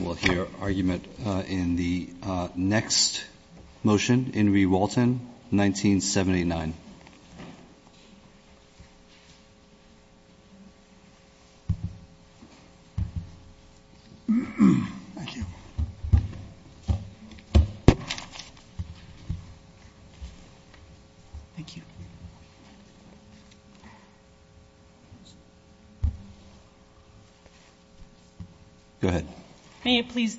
We'll hear argument in the next motion, In Re. Walton, 1979. Thank you. Thank you. Go ahead. That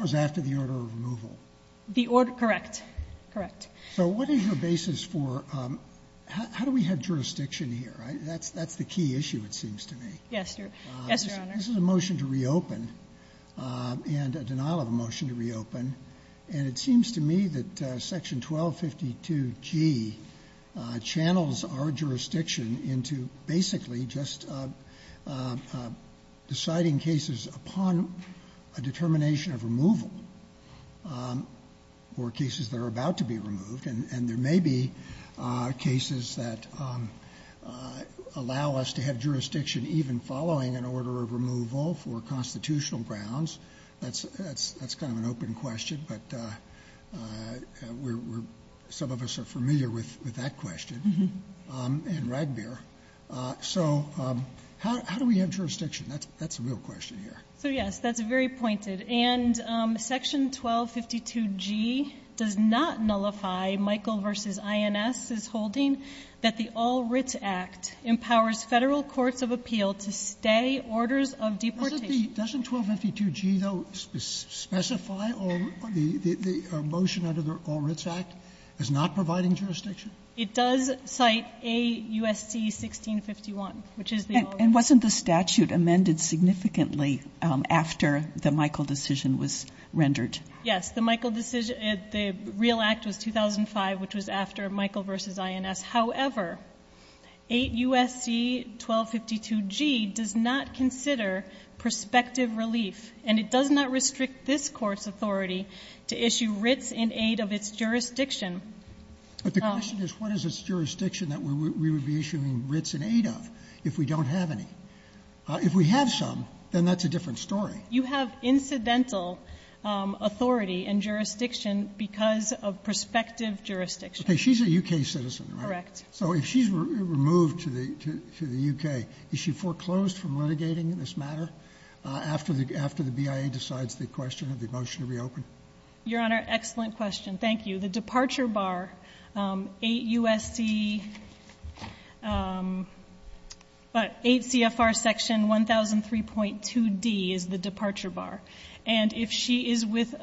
was after the order of removal. Correct. So what is your basis for — how do we have jurisdiction here? That's the key issue, it seems to me. Yes, Your Honor. This is a motion to reopen and a denial of a motion to reopen. And it seems to me that Section 1252G channels our jurisdiction into basically just deciding cases upon a determination of removal or cases that are about to be removed. And there may be cases that allow us to have jurisdiction even following an order of removal for constitutional grounds. That's kind of an open question, but some of us are familiar with that question in Ragbir. So how do we have jurisdiction? That's a real question here. So, yes, that's very pointed. And Section 1252G does not nullify, Michael v. INS is holding, that the All Writs Act empowers Federal courts of appeal to stay orders of deportation. Doesn't 1252G, though, specify the motion under the All Writs Act as not providing jurisdiction? It does cite 8 U.S.C. 1651, which is the All Writs Act. And wasn't the statute amended significantly after the Michael decision was rendered? Yes, the Michael decision, the real act was 2005, which was after Michael v. INS. However, 8 U.S.C. 1252G does not consider prospective relief, and it does not restrict this Court's authority to issue writs in aid of its jurisdiction. But the question is what is its jurisdiction that we would be issuing writs in aid of if we don't have any? If we have some, then that's a different story. You have incidental authority and jurisdiction because of prospective jurisdiction. Okay. She's a U.K. citizen, right? Correct. So if she's removed to the U.K., is she foreclosed from litigating this matter after the BIA decides the question of the motion to reopen? Your Honor, excellent question. Thank you. The departure bar, 8 U.S.C. 8 CFR Section 1003.2D is the departure bar. And if she is with —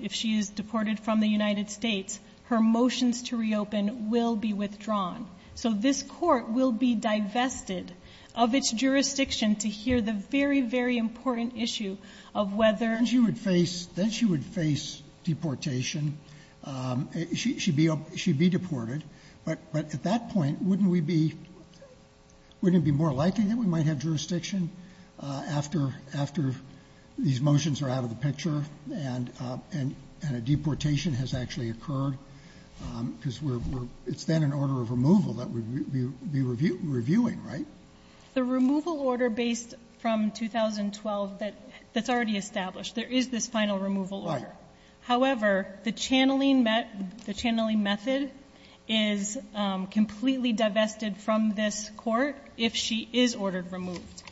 if she is deported from the United States, her motions to reopen will be withdrawn. So this Court will be divested of its jurisdiction to hear the very, very important issue of whether — then she would face — then she would face deportation. She'd be — she'd be deported. But at that point, wouldn't we be — wouldn't it be more likely that we might have jurisdiction after these motions are out of the picture and a deportation has actually occurred? Because we're — it's then an order of removal that we would be reviewing, right? The removal order based from 2012, that's already established. There is this final removal order. Right. However, the channeling — the channeling method is completely divested from this Court if she is ordered removed.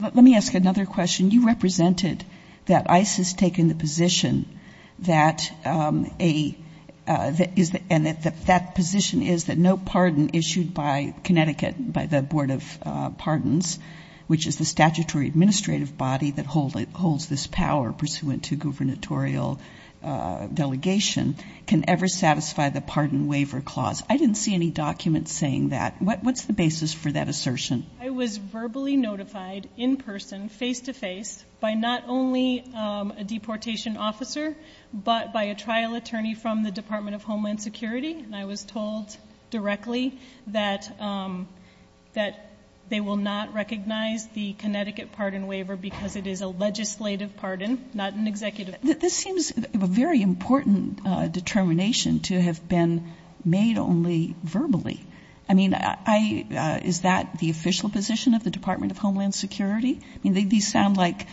Let me ask another question. You represented that ICE has taken the position that a — that is — and that that position is that no pardon issued by Connecticut, by the Board of Pardons, which is the statutory administrative body that holds this power pursuant to gubernatorial delegation, can ever satisfy the Pardon Waiver Clause. I didn't see any documents saying that. What's the basis for that assertion? I was verbally notified in person, face-to-face, by not only a deportation officer, but by a trial attorney from the Department of Homeland Security. And I was told directly that they will not recognize the Connecticut pardon waiver because it is a legislative pardon, not an executive pardon. This seems a very important determination to have been made only verbally. I mean, is that the official position of the Department of Homeland Security? I mean, these sound like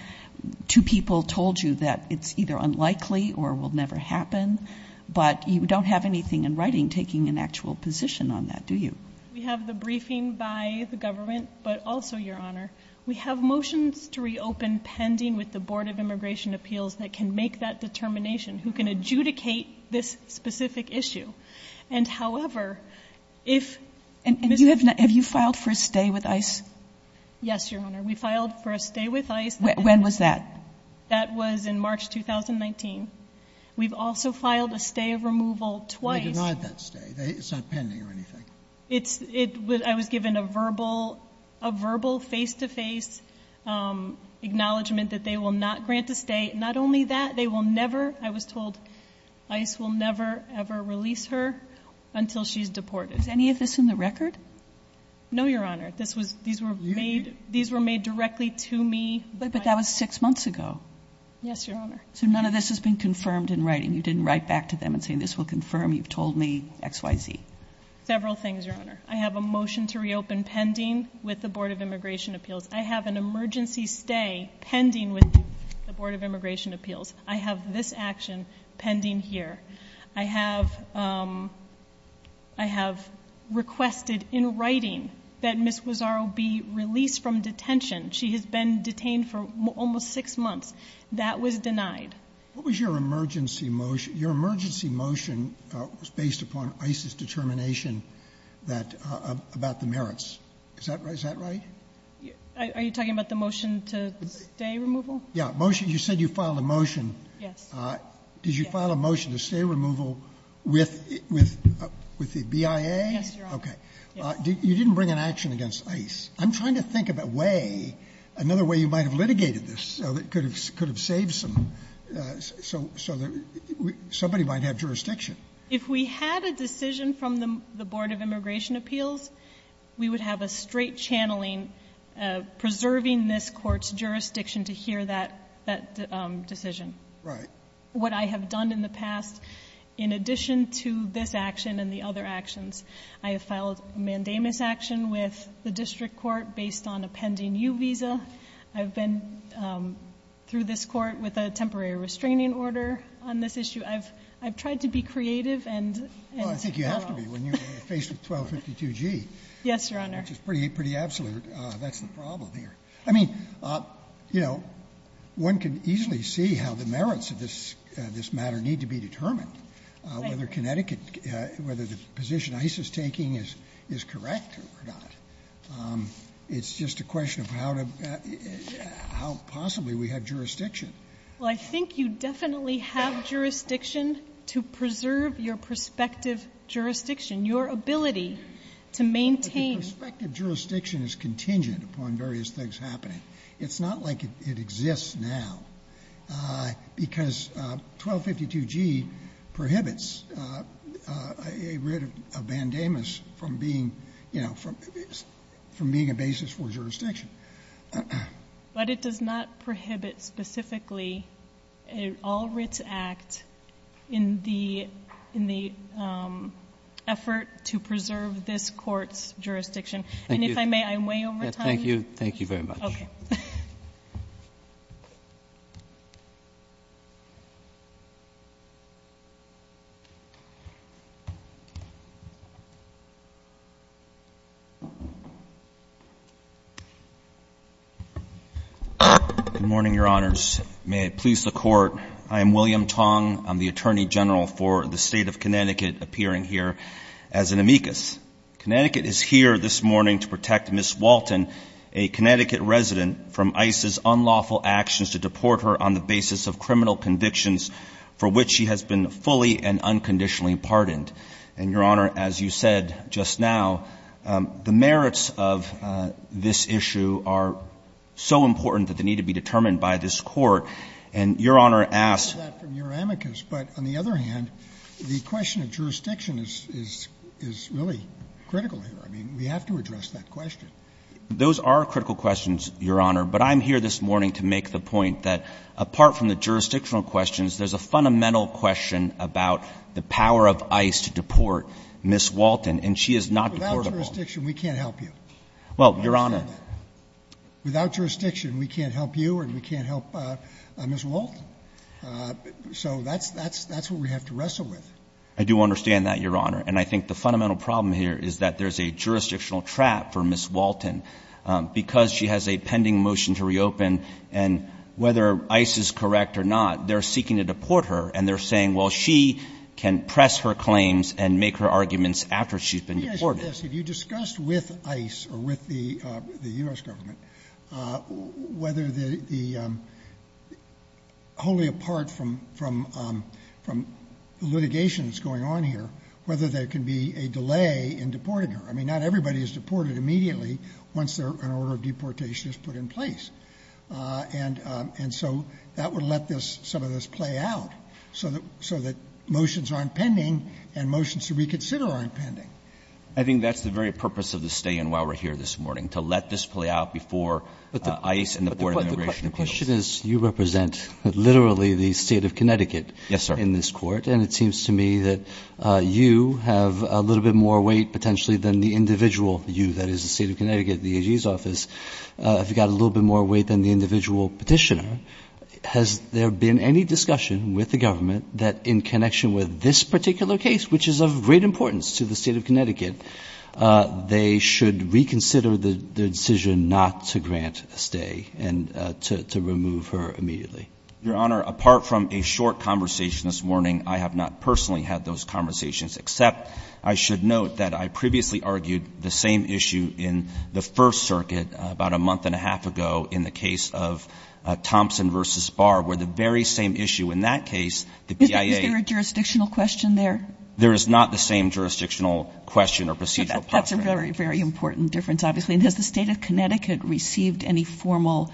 two people told you that it's either unlikely or will never happen, but you don't have anything in writing taking an actual position on that, do you? We have the briefing by the government, but also, Your Honor, we have motions to reopen pending with the Board of Immigration Appeals that can make that determination, who can adjudicate this specific issue. And, however, if — And have you filed for a stay with ICE? Yes, Your Honor, we filed for a stay with ICE. When was that? That was in March 2019. We've also filed a stay of removal twice. They denied that stay. It's not pending or anything. I was given a verbal face-to-face acknowledgement that they will not grant a stay. Not only that, they will never — I was told ICE will never, ever release her until she's deported. Is any of this in the record? No, Your Honor. These were made directly to me. But that was six months ago. Yes, Your Honor. So none of this has been confirmed in writing? You didn't write back to them and say, this will confirm you've told me X, Y, Z? Several things, Your Honor. I have a motion to reopen pending with the Board of Immigration Appeals. I have an emergency stay pending with the Board of Immigration Appeals. I have this action pending here. I have requested in writing that Ms. Guzzaro be released from detention. She has been detained for almost six months. That was denied. What was your emergency motion? Your emergency motion was based upon ICE's determination that — about the merits. Is that right? Are you talking about the motion to stay removal? Yeah. You said you filed a motion. Yes. Did you file a motion to stay removal with the BIA? Yes, Your Honor. You didn't bring an action against ICE. I'm trying to think of a way, another way you might have litigated this that could have saved some — somebody might have jurisdiction. If we had a decision from the Board of Immigration Appeals, we would have a straight channeling preserving this Court's jurisdiction to hear that decision. Right. What I have done in the past, in addition to this action and the other actions, I have filed a mandamus action with the district court based on a pending U visa. I've been through this court with a temporary restraining order on this issue. I've tried to be creative and — Well, I think you have to be when you're faced with 1252G. Yes, Your Honor. Which is pretty absolute. That's the problem here. I mean, you know, one can easily see how the merits of this matter need to be determined. Right. Whether Connecticut — whether the position ICE is taking is correct or not, it's just a question of how to — how possibly we have jurisdiction. Well, I think you definitely have jurisdiction to preserve your prospective jurisdiction, your ability to maintain — But the prospective jurisdiction is contingent upon various things happening. It's not like it exists now, because 1252G prohibits a writ of mandamus from being, you know, from being a basis for jurisdiction. But it does not prohibit specifically an All Writs Act in the effort to preserve this Court's jurisdiction. And if I may, I'm way over time. Thank you. Thank you very much. Okay. Good morning, Your Honors. May it please the Court, I am William Tong. I'm the Attorney General for the State of Connecticut, appearing here as an amicus. Connecticut is here this morning to protect Ms. Walton, a Connecticut resident, from ICE's unlawful actions to deport her on the basis of criminal convictions for which she has been fully and unconditionally pardoned. And, Your Honor, as you said just now, the merits of this issue are so important that they need to be determined by this Court. And Your Honor asked — But on the other hand, the question of jurisdiction is really critical here. I mean, we have to address that question. Those are critical questions, Your Honor. But I'm here this morning to make the point that, apart from the jurisdictional questions, there's a fundamental question about the power of ICE to deport Ms. Walton, and she has not deported her. Without jurisdiction, we can't help you. Well, Your Honor — I understand that. Without jurisdiction, we can't help you and we can't help Ms. Walton. So that's what we have to wrestle with. I do understand that, Your Honor. And I think the fundamental problem here is that there's a jurisdictional trap for Ms. Walton. Because she has a pending motion to reopen, and whether ICE is correct or not, they're seeking to deport her, and they're saying, well, she can press her claims and make her arguments after she's been deported. Let me ask you this. Have you discussed with ICE or with the U.S. government whether the — wholly apart from litigation that's going on here, whether there can be a delay in deporting her? I mean, not everybody is deported immediately once an order of deportation is put in place. And so that would let some of this play out so that motions aren't pending and motions to reconsider aren't pending. I think that's the very purpose of the stay-in while we're here this morning, to let this play out before ICE and the Board of Immigration Appeals. But the question is you represent literally the State of Connecticut in this court. Yes, sir. And it seems to me that you have a little bit more weight potentially than the individual you, that is the State of Connecticut, the AG's office, have got a little bit more weight than the individual petitioner. Has there been any discussion with the government that in connection with this particular case, which is of great importance to the State of Connecticut, they should reconsider the decision not to grant a stay and to remove her immediately? Your Honor, apart from a short conversation this morning, I have not personally had those conversations, except I should note that I previously argued the same issue in the First Circuit about a month and a half ago in the case of Thompson v. Barr, where the very same issue in that case, the BIA — there is not the same jurisdictional question or procedural process. That's a very, very important difference, obviously. And has the State of Connecticut received any formal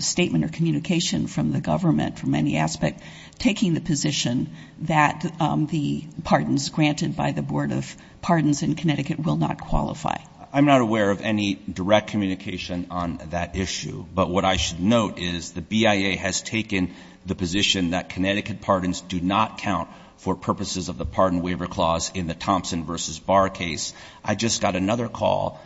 statement or communication from the government from any aspect taking the position that the pardons granted by the Board of Pardons in Connecticut will not qualify? I'm not aware of any direct communication on that issue. But what I should note is the BIA has taken the position that Connecticut pardons do not count for purposes of the pardon waiver clause in the Thompson v. Barr case. I just got another call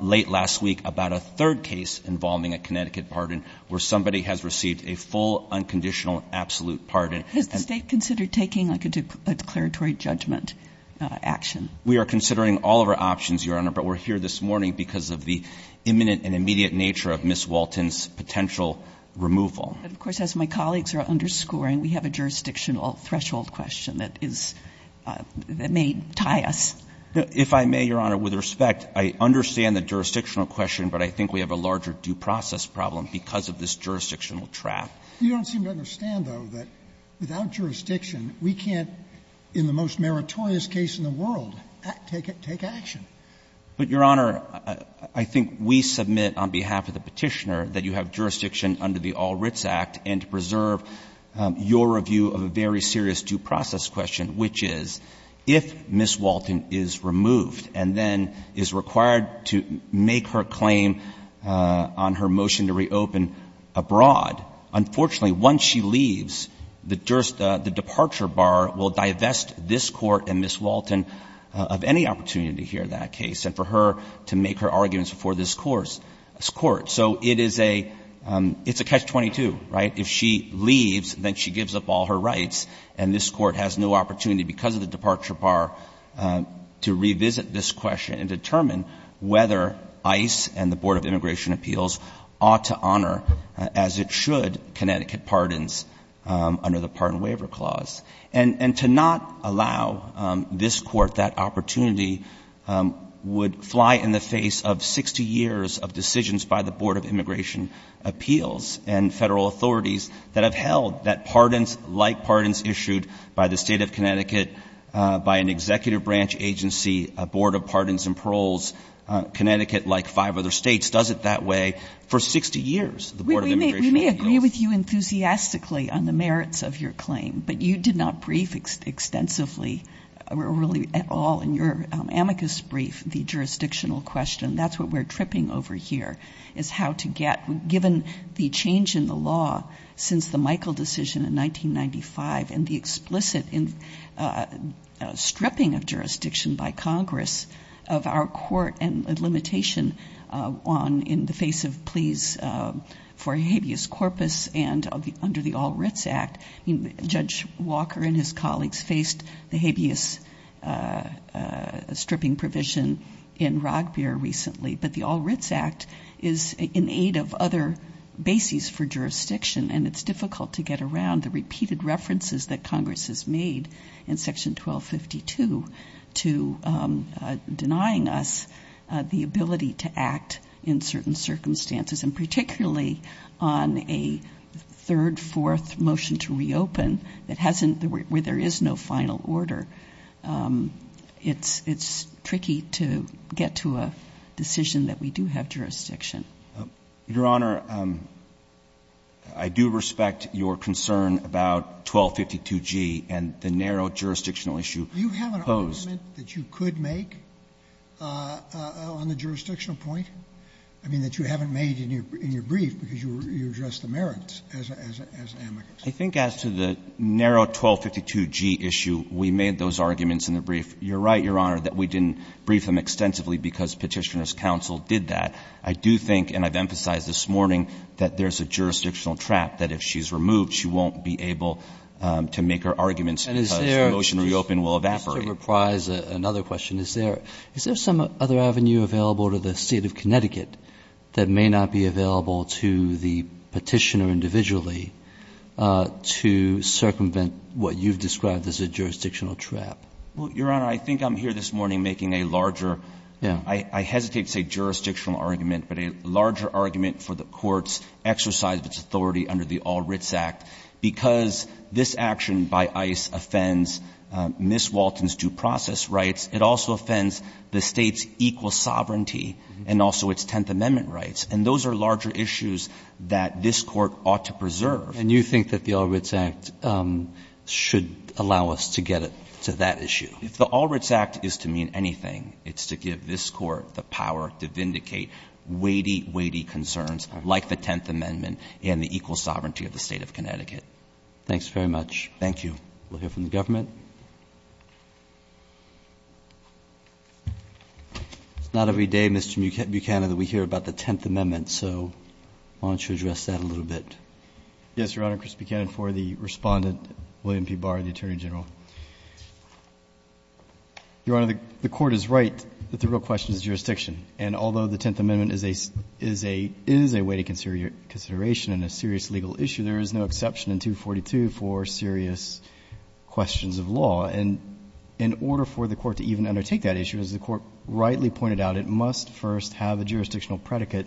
late last week about a third case involving a Connecticut pardon where somebody has received a full, unconditional, absolute pardon. Has the State considered taking a declaratory judgment action? We are considering all of our options, Your Honor, but we're here this morning because of the imminent and immediate nature of Ms. Walton's potential removal. But, of course, as my colleagues are underscoring, we have a jurisdictional threshold question that is — that may tie us. If I may, Your Honor, with respect, I understand the jurisdictional question, but I think we have a larger due process problem because of this jurisdictional trap. You don't seem to understand, though, that without jurisdiction, we can't, in the most meritorious case in the world, take it — take action. But, Your Honor, I think we submit on behalf of the Petitioner that you have jurisdiction under the All Writs Act and to preserve your review of a very serious due process question, which is, if Ms. Walton is removed and then is required to make her claim on her motion to reopen abroad, unfortunately, once she leaves, the departure bar will divest this Court and Ms. Walton of any opportunity here in that case and for her to make her arguments before this Court. So it is a — it's a catch-22, right? If she leaves, then she gives up all her rights, and this Court has no opportunity because of the departure bar to revisit this question and determine whether ICE and the Board of Immigration Appeals ought to honor, as it should, Connecticut pardons under the Pardon Waiver Clause. And to not allow this Court that opportunity would fly in the face of 60 years of decisions by the Board of Immigration Appeals and Federal authorities that have held that pardons, like pardons issued by the State of Connecticut, by an executive branch agency, a Board of Pardons and Paroles, Connecticut, like five other states, does it that way for 60 years, the Board of Immigration Appeals. We may agree with you enthusiastically on the merits of your claim, but you did not brief extensively, really at all, in your amicus brief, the jurisdictional question. That's what we're tripping over here, is how to get — given the change in the law since the Michael decision in 1995 and the explicit stripping of jurisdiction by Congress of our court and limitation on — in the face of pleas for habeas corpus and under the All Writs Act. I mean, Judge Walker and his colleagues faced the habeas stripping provision in court recently, but the All Writs Act is in aid of other bases for jurisdiction, and it's difficult to get around the repeated references that Congress has made in Section 1252 to denying us the ability to act in certain circumstances, and particularly on a third, fourth motion to reopen that hasn't — where there is no final order. It's tricky to get to a decision that we do have jurisdiction. Your Honor, I do respect your concern about 1252g and the narrow jurisdictional issue posed. Do you have an argument that you could make on the jurisdictional point? I mean, that you haven't made in your brief because you addressed the merits as amicus. I think as to the narrow 1252g issue, we made those arguments in the brief. You're right, Your Honor, that we didn't brief them extensively because Petitioner's counsel did that. I do think, and I've emphasized this morning, that there's a jurisdictional trap that if she's removed, she won't be able to make her arguments because the motion to reopen will evaporate. And is there — just to reprise another question, is there — is there some other that may not be available to the Petitioner individually to circumvent what you've described as a jurisdictional trap? Well, Your Honor, I think I'm here this morning making a larger — Yeah. I hesitate to say jurisdictional argument, but a larger argument for the Court's exercise of its authority under the All Writs Act because this action by ICE offends Ms. Walton's due process rights. It also offends the State's equal sovereignty and also its Tenth Amendment rights. And those are larger issues that this Court ought to preserve. And you think that the All Writs Act should allow us to get to that issue? If the All Writs Act is to mean anything, it's to give this Court the power to vindicate weighty, weighty concerns like the Tenth Amendment and the equal sovereignty of the State of Connecticut. Thank you. We'll hear from the government. It's not every day, Mr. Buchanan, that we hear about the Tenth Amendment, so why don't you address that a little bit? Yes, Your Honor. Chris Buchanan for the Respondent, William P. Barr, the Attorney General. Your Honor, the Court is right that the real question is jurisdiction. And although the Tenth Amendment is a — is a — is a weighty consideration and a serious legal issue, there is no exception in 242 for serious questions of law. And in order for the Court to even undertake that issue, as the Court rightly pointed out, it must first have a jurisdictional predicate,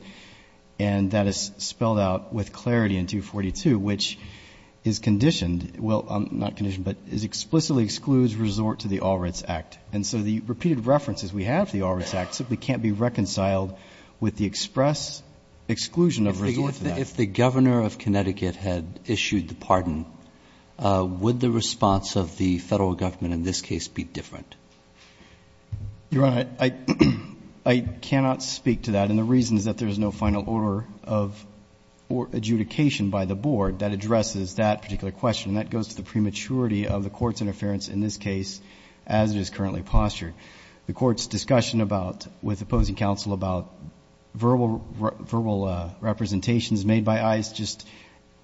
and that is spelled out with clarity in 242, which is conditioned — well, not conditioned, but explicitly excludes resort to the All Writs Act. And so the repeated references we have to the All Writs Act simply can't be reconciled with the express exclusion of resort to that. If the governor of Connecticut had issued the pardon, would the response of the federal government in this case be different? Your Honor, I — I cannot speak to that. And the reason is that there is no final order of adjudication by the Board that addresses that particular question. And that goes to the prematurity of the Court's interference in this case as it is currently postured. The Court's discussion about — with opposing counsel about verbal — verbal representations made by ICE just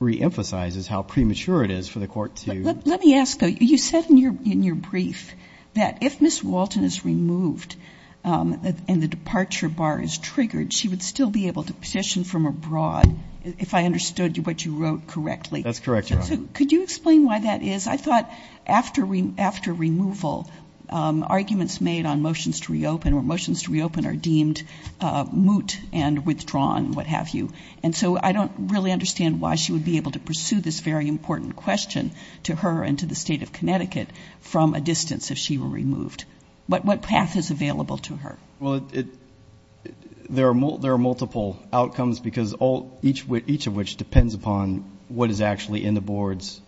reemphasizes how premature it is for the Court to — Let me ask, though. You said in your — in your brief that if Ms. Walton is removed and the departure bar is triggered, she would still be able to petition from abroad, if I understood what you wrote correctly. That's correct, Your Honor. Could you explain why that is? I thought after — after removal, arguments made on motions to reopen or motions to reopen are deemed moot and withdrawn, what have you. And so I don't really understand why she would be able to pursue this very important question to her and to the State of Connecticut from a distance if she were removed. What — what path is available to her? Well, it — there are — there are multiple outcomes because all — each of which depends upon what is actually in the Board's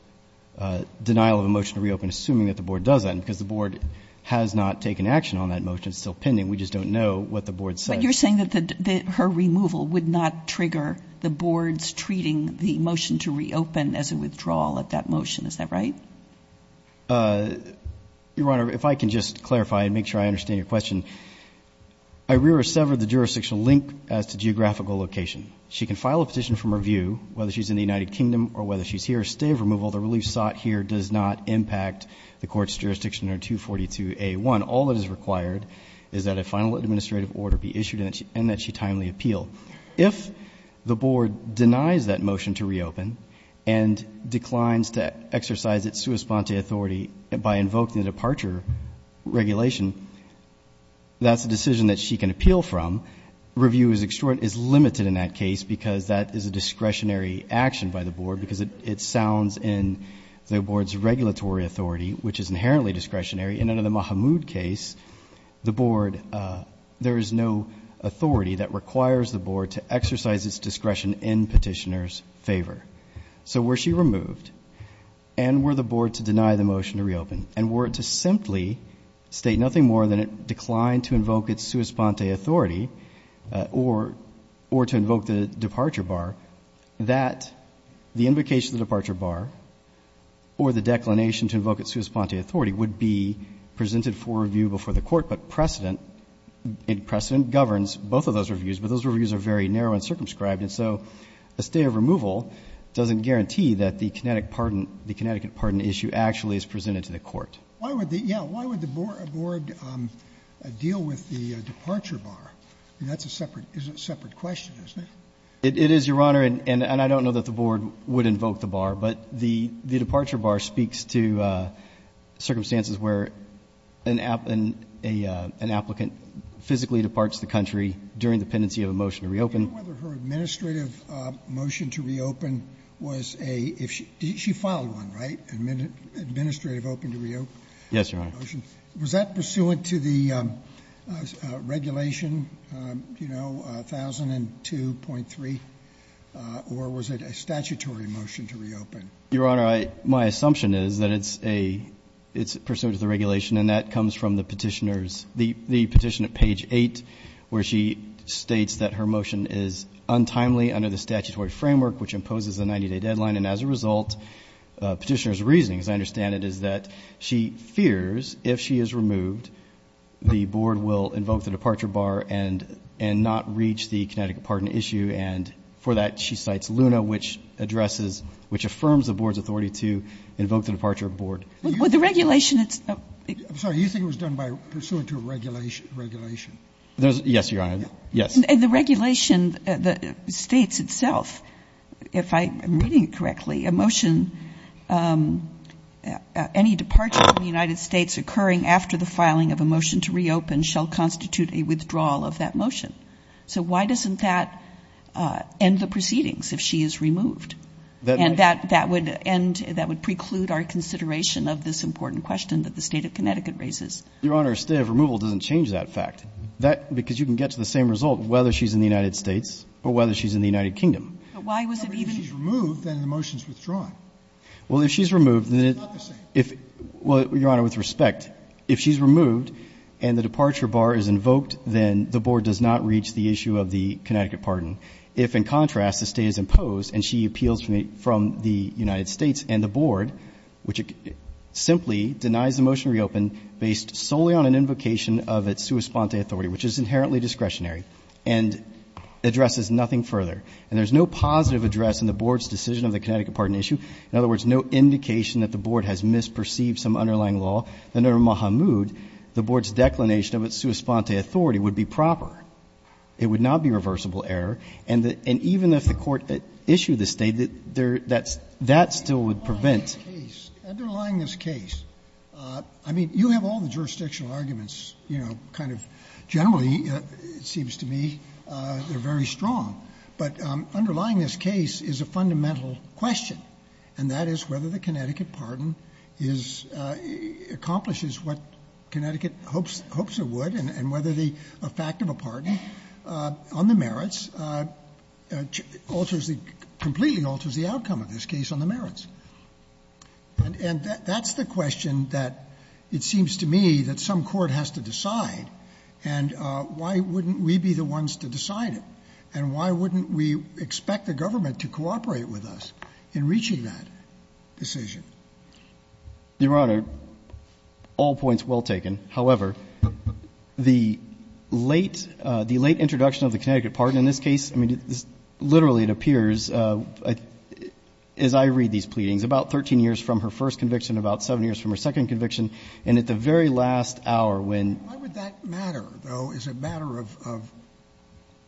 denial of a motion to reopen, assuming that the Board does that. And because the Board has not taken action on that motion, it's still pending. We just don't know what the Board says. But you're saying that her removal would not trigger the Board's treating the motion to reopen as a withdrawal of that motion, is that right? Your Honor, if I can just clarify and make sure I understand your question, I rear-severed the jurisdictional link as to geographical location. She can file a petition from her view, whether she's in the United Kingdom or whether she's here, a stay of removal, the relief sought here, does not impact the Court's jurisdiction under 242A1. All that is required is that a final administrative order be issued and that she — and that she timely appeal. If the Board denies that motion to reopen and declines to exercise its sua sponte authority by invoking the departure regulation, that's a decision that she can appeal from. Review is limited in that case because that is a discretionary action by the Board because it sounds in the Board's regulatory authority, which is inherently discretionary. In another Mahmoud case, the Board — there is no authority that requires the Board to exercise its discretion in petitioner's favor. So were she removed, and were the Board to deny the motion to reopen, and were it to simply state nothing more than it declined to invoke its sua sponte authority or to invoke the departure bar, that the invocation of the departure bar or the declination to invoke its sua sponte authority would be presented for review before the Court. But precedent — precedent governs both of those reviews. But those reviews are very narrow and circumscribed. And so a stay of removal doesn't guarantee that the kinetic pardon — the Connecticut pardon issue actually is presented to the Court. Why would the — yeah, why would the Board deal with the departure bar? I mean, that's a separate — is a separate question, isn't it? It is, Your Honor. And I don't know that the Board would invoke the bar. But the departure bar speaks to circumstances where an applicant physically departs the country during the pendency of a motion to reopen. I don't know whether her administrative motion to reopen was a — she filed one, right? Administrative open to reopen. Yes, Your Honor. Was that pursuant to the regulation, you know, 1002.3? Or was it a statutory motion to reopen? Your Honor, I — my assumption is that it's a — it's pursuant to the regulation. And that comes from the petitioner's — the petition at page 8, where she states that her motion is untimely under the statutory framework, which imposes a 90-day deadline. And as a result, petitioner's reasoning, as I understand it, is that she fears if she is removed, the Board will invoke the departure bar and not reach the Connecticut pardon issue. And for that, she cites LUNA, which addresses — which affirms the Board's authority to invoke the departure board. With the regulation, it's — I'm sorry. You think it was done by — pursuant to a regulation? Yes, Your Honor. Yes. And the regulation states itself, if I'm reading it correctly, a motion — any departure from the United States occurring after the filing of a motion to reopen shall constitute a withdrawal of that motion. So why doesn't that end the proceedings if she is removed? And that would end — that would preclude our consideration of this important question that the State of Connecticut raises. Your Honor, a state of removal doesn't change that fact. That — because you can get to the same result whether she's in the United States or whether she's in the United Kingdom. But why was it even — But if she's removed, then the motion's withdrawn. Well, if she's removed, then it — It's not the same. Well, Your Honor, with respect, if she's removed and the departure bar is invoked, then the board does not reach the issue of the Connecticut pardon. If, in contrast, the State is imposed and she appeals from the United States and the board, which simply denies the motion to reopen based solely on an invocation of its sua sponte authority, which is inherently discretionary and addresses nothing further. And there's no positive address in the board's decision of the Connecticut pardon issue. In other words, no indication that the board has misperceived some underlying Underlying this case, I mean, you have all the jurisdictional arguments, you know, kind of generally, it seems to me, that are very strong, but underlying this case is a fundamental question, and that is whether the Connecticut pardon is a constitutional Connecticut hopes it would, and whether the effect of a pardon on the merits completely alters the outcome of this case on the merits. And that's the question that it seems to me that some court has to decide, and why wouldn't we be the ones to decide it, and why wouldn't we expect the government to cooperate with us in reaching that decision? Your Honor, all points well taken. However, the late, the late introduction of the Connecticut pardon in this case, I mean, literally it appears, as I read these pleadings, about 13 years from her first conviction, about 7 years from her second conviction, and at the very last hour when Why would that matter, though, as a matter of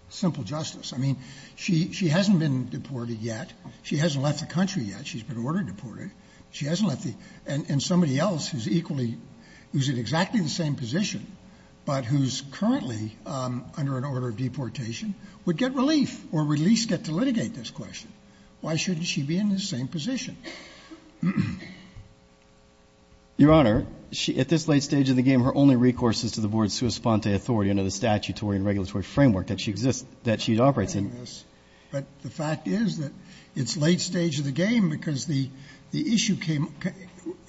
simple justice? I mean, she hasn't been deported yet. She hasn't left the country yet. She's been ordered deported. She hasn't left the country. And somebody else who's equally, who's in exactly the same position, but who's currently under an order of deportation would get relief, or at least get to litigate this question. Why shouldn't she be in the same position? Your Honor, at this late stage of the game, her only recourse is to the board's sua sponte authority under the statutory and regulatory framework that she exists, that she operates in. But the fact is that it's late stage of the game because the issue came,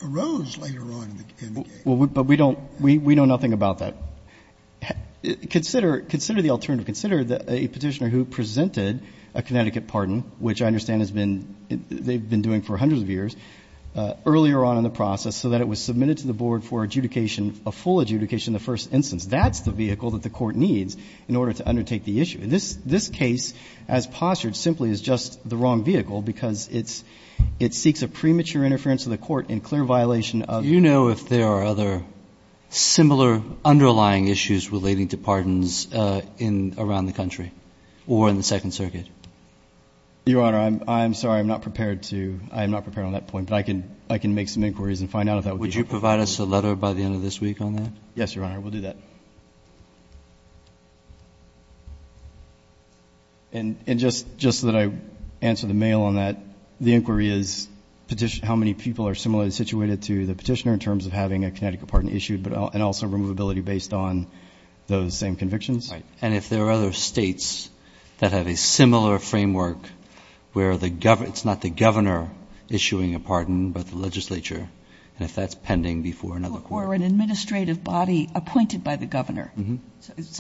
arose later on in the game. Well, but we don't, we know nothing about that. Consider, consider the alternative. Consider a Petitioner who presented a Connecticut pardon, which I understand has been, they've been doing for hundreds of years, earlier on in the process so that it was submitted to the board for adjudication, a full adjudication in the first instance. That's the vehicle that the Court needs in order to undertake the issue. And this, this case, as postured, simply is just the wrong vehicle because it's, it seeks a premature interference of the Court in clear violation of Do you know if there are other similar underlying issues relating to pardons in, around the country, or in the Second Circuit? Your Honor, I'm, I'm sorry, I'm not prepared to, I am not prepared on that point, but I can, I can make some inquiries and find out if that would be helpful. Would you provide us a letter by the end of this week on that? Yes, Your Honor, we'll do that. Thank you. And, and just, just that I answer the mail on that, the inquiry is petition, how many people are similarly situated to the Petitioner in terms of having a Connecticut pardon issued, but, and also removability based on those same convictions? Right. And if there are other states that have a similar framework where the, it's not the Governor issuing a pardon, but the legislature, and if that's pending before another Court. Or an administrative body appointed by the Governor,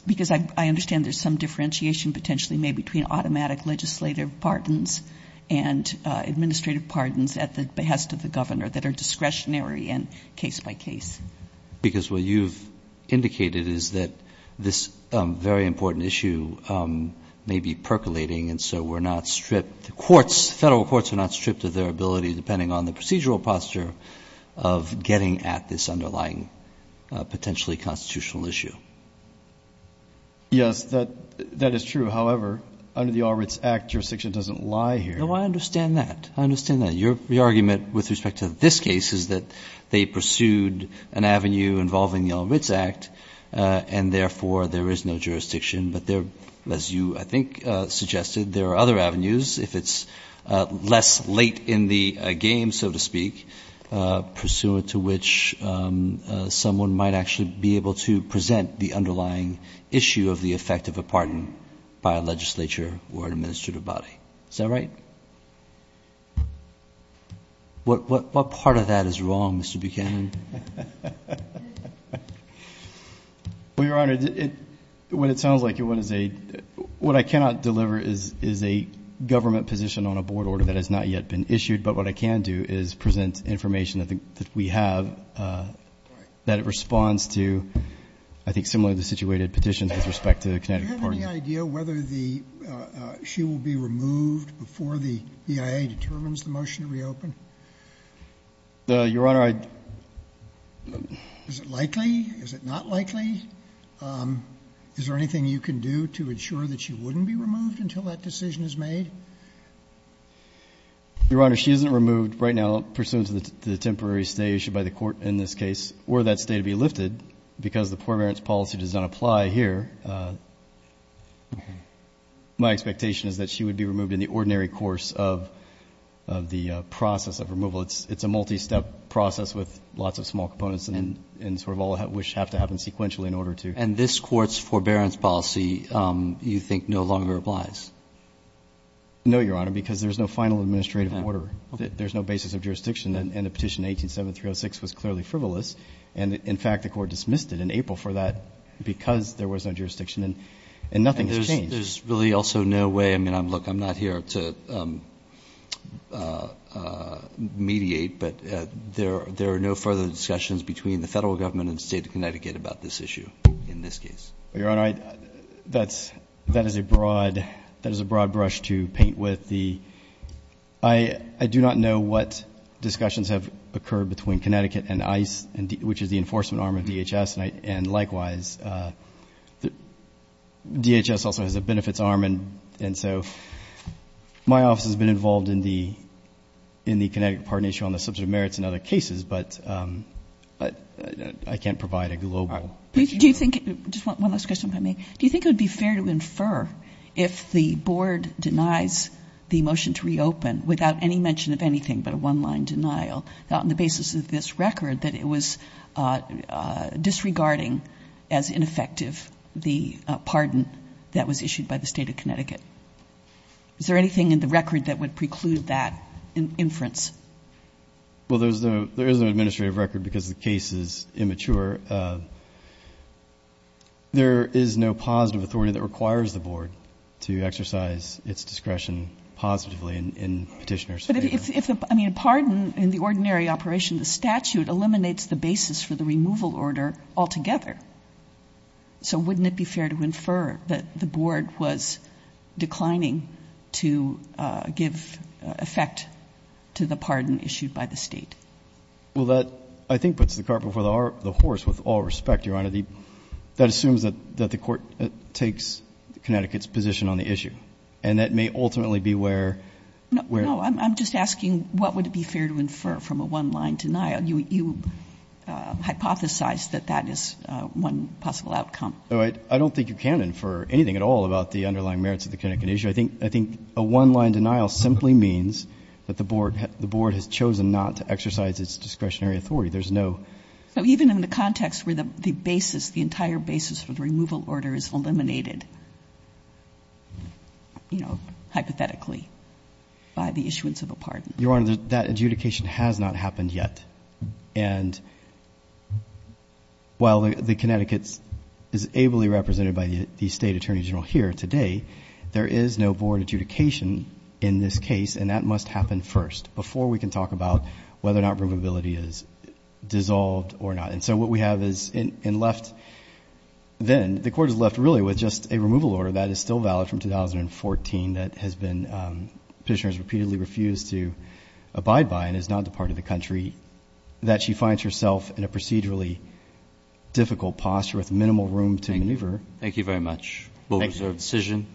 because I understand there's some differentiation potentially made between automatic legislative pardons and administrative pardons at the behest of the Governor that are discretionary and case by case. Because what you've indicated is that this very important issue may be percolating, and so we're not stripped, the courts, federal courts are not stripped of their ability, depending on the procedural posture of getting at this underlying potentially constitutional issue. Yes, that, that is true. However, under the All Writs Act, jurisdiction doesn't lie here. No, I understand that. I understand that. Your argument with respect to this case is that they pursued an avenue involving the All Writs Act, and therefore there is no jurisdiction. But there, as you, I think, suggested, there are other avenues. If it's less late in the game, so to speak, pursuant to which someone might actually be able to present the underlying issue of the effect of a pardon by a legislature or an administrative body. Is that right? What part of that is wrong, Mr. Buchanan? Well, Your Honor, when it sounds like it, what I cannot deliver is a government position on a board order that has not yet been issued, but what I can do is present information that we have that responds to, I think, similar to the situated petitions with respect to the Connecticut pardon. Do you have any idea whether the, she will be removed before the EIA determines the motion to reopen? Your Honor, I. Is it likely? Is it not likely? Is there anything you can do to ensure that she wouldn't be removed until that decision is made? Your Honor, she isn't removed right now pursuant to the temporary stay issued by the court in this case, or that stay to be lifted because the poor parents policy does not apply here. My expectation is that she would be removed in the ordinary course of the process of removal. It's a multi-step process with lots of small components and sort of all which have to happen sequentially in order to. And this court's forbearance policy, you think no longer applies? No, Your Honor, because there's no final administrative order. There's no basis of jurisdiction. And the petition 187306 was clearly frivolous. And in fact, the court dismissed it in April for that because there was no jurisdiction and nothing has changed. There's really also no way. I mean, I'm look, I'm not here to mediate, but there, there are no further discussions between the federal government and state of Connecticut about this issue in this case. Your Honor, that's, that is a broad, that is a broad brush to paint with the, I, I do not know what discussions have occurred between Connecticut and ice and D, which is the enforcement arm of DHS. And I, and likewise, the DHS also has a benefits arm. And, and so my office has been involved in the, in the Connecticut partnership on the subject of merits and other cases, but, but I can't provide a global. Do you think, just one last question by me. Do you think it would be fair to infer if the board denies the motion to reopen without any mention of anything, but a one line denial on the basis of this record, that it was disregarding as ineffective, the pardon that was issued by the state of Connecticut. Is there anything in the record that would preclude that in inference? Well, there's no, there is an administrative record because the case is immature. There is no positive authority that requires the board to exercise its discretion positively in petitioners. But if, I mean, pardon in the ordinary operation, the statute eliminates the basis for the removal order altogether. So wouldn't it be fair to infer that the board was declining to give effect to the pardon issued by the state? Well, that I think puts the cart before the horse with all respect, Your Honor, that assumes that, that the court takes Connecticut's position on the issue. And that may ultimately be where, where I'm just asking what would it be fair to infer from a one line denial? You hypothesize that that is one possible outcome. I don't think you can infer anything at all about the underlying merits of the Connecticut issue. I think, I think a one line denial simply means that the board, the board has chosen not to exercise its discretionary authority. There's no. So even in the context where the basis, the entire basis for the removal order is eliminated, you know, hypothetically by the issuance of a pardon. Your Honor, that adjudication has not happened yet. And while the Connecticut's is ably represented by the state attorney general here today, there is no board adjudication in this case. And that must happen first before we can talk about whether or not removability is dissolved or not. And so what we have is in, in left then the court is left really with just a removal order that is still valid from 2014. That has been petitioners repeatedly refused to abide by and is not the part of the country that she finds herself in a procedurally difficult posture with minimal room to maneuver. Thank you very much. We'll reserve decision.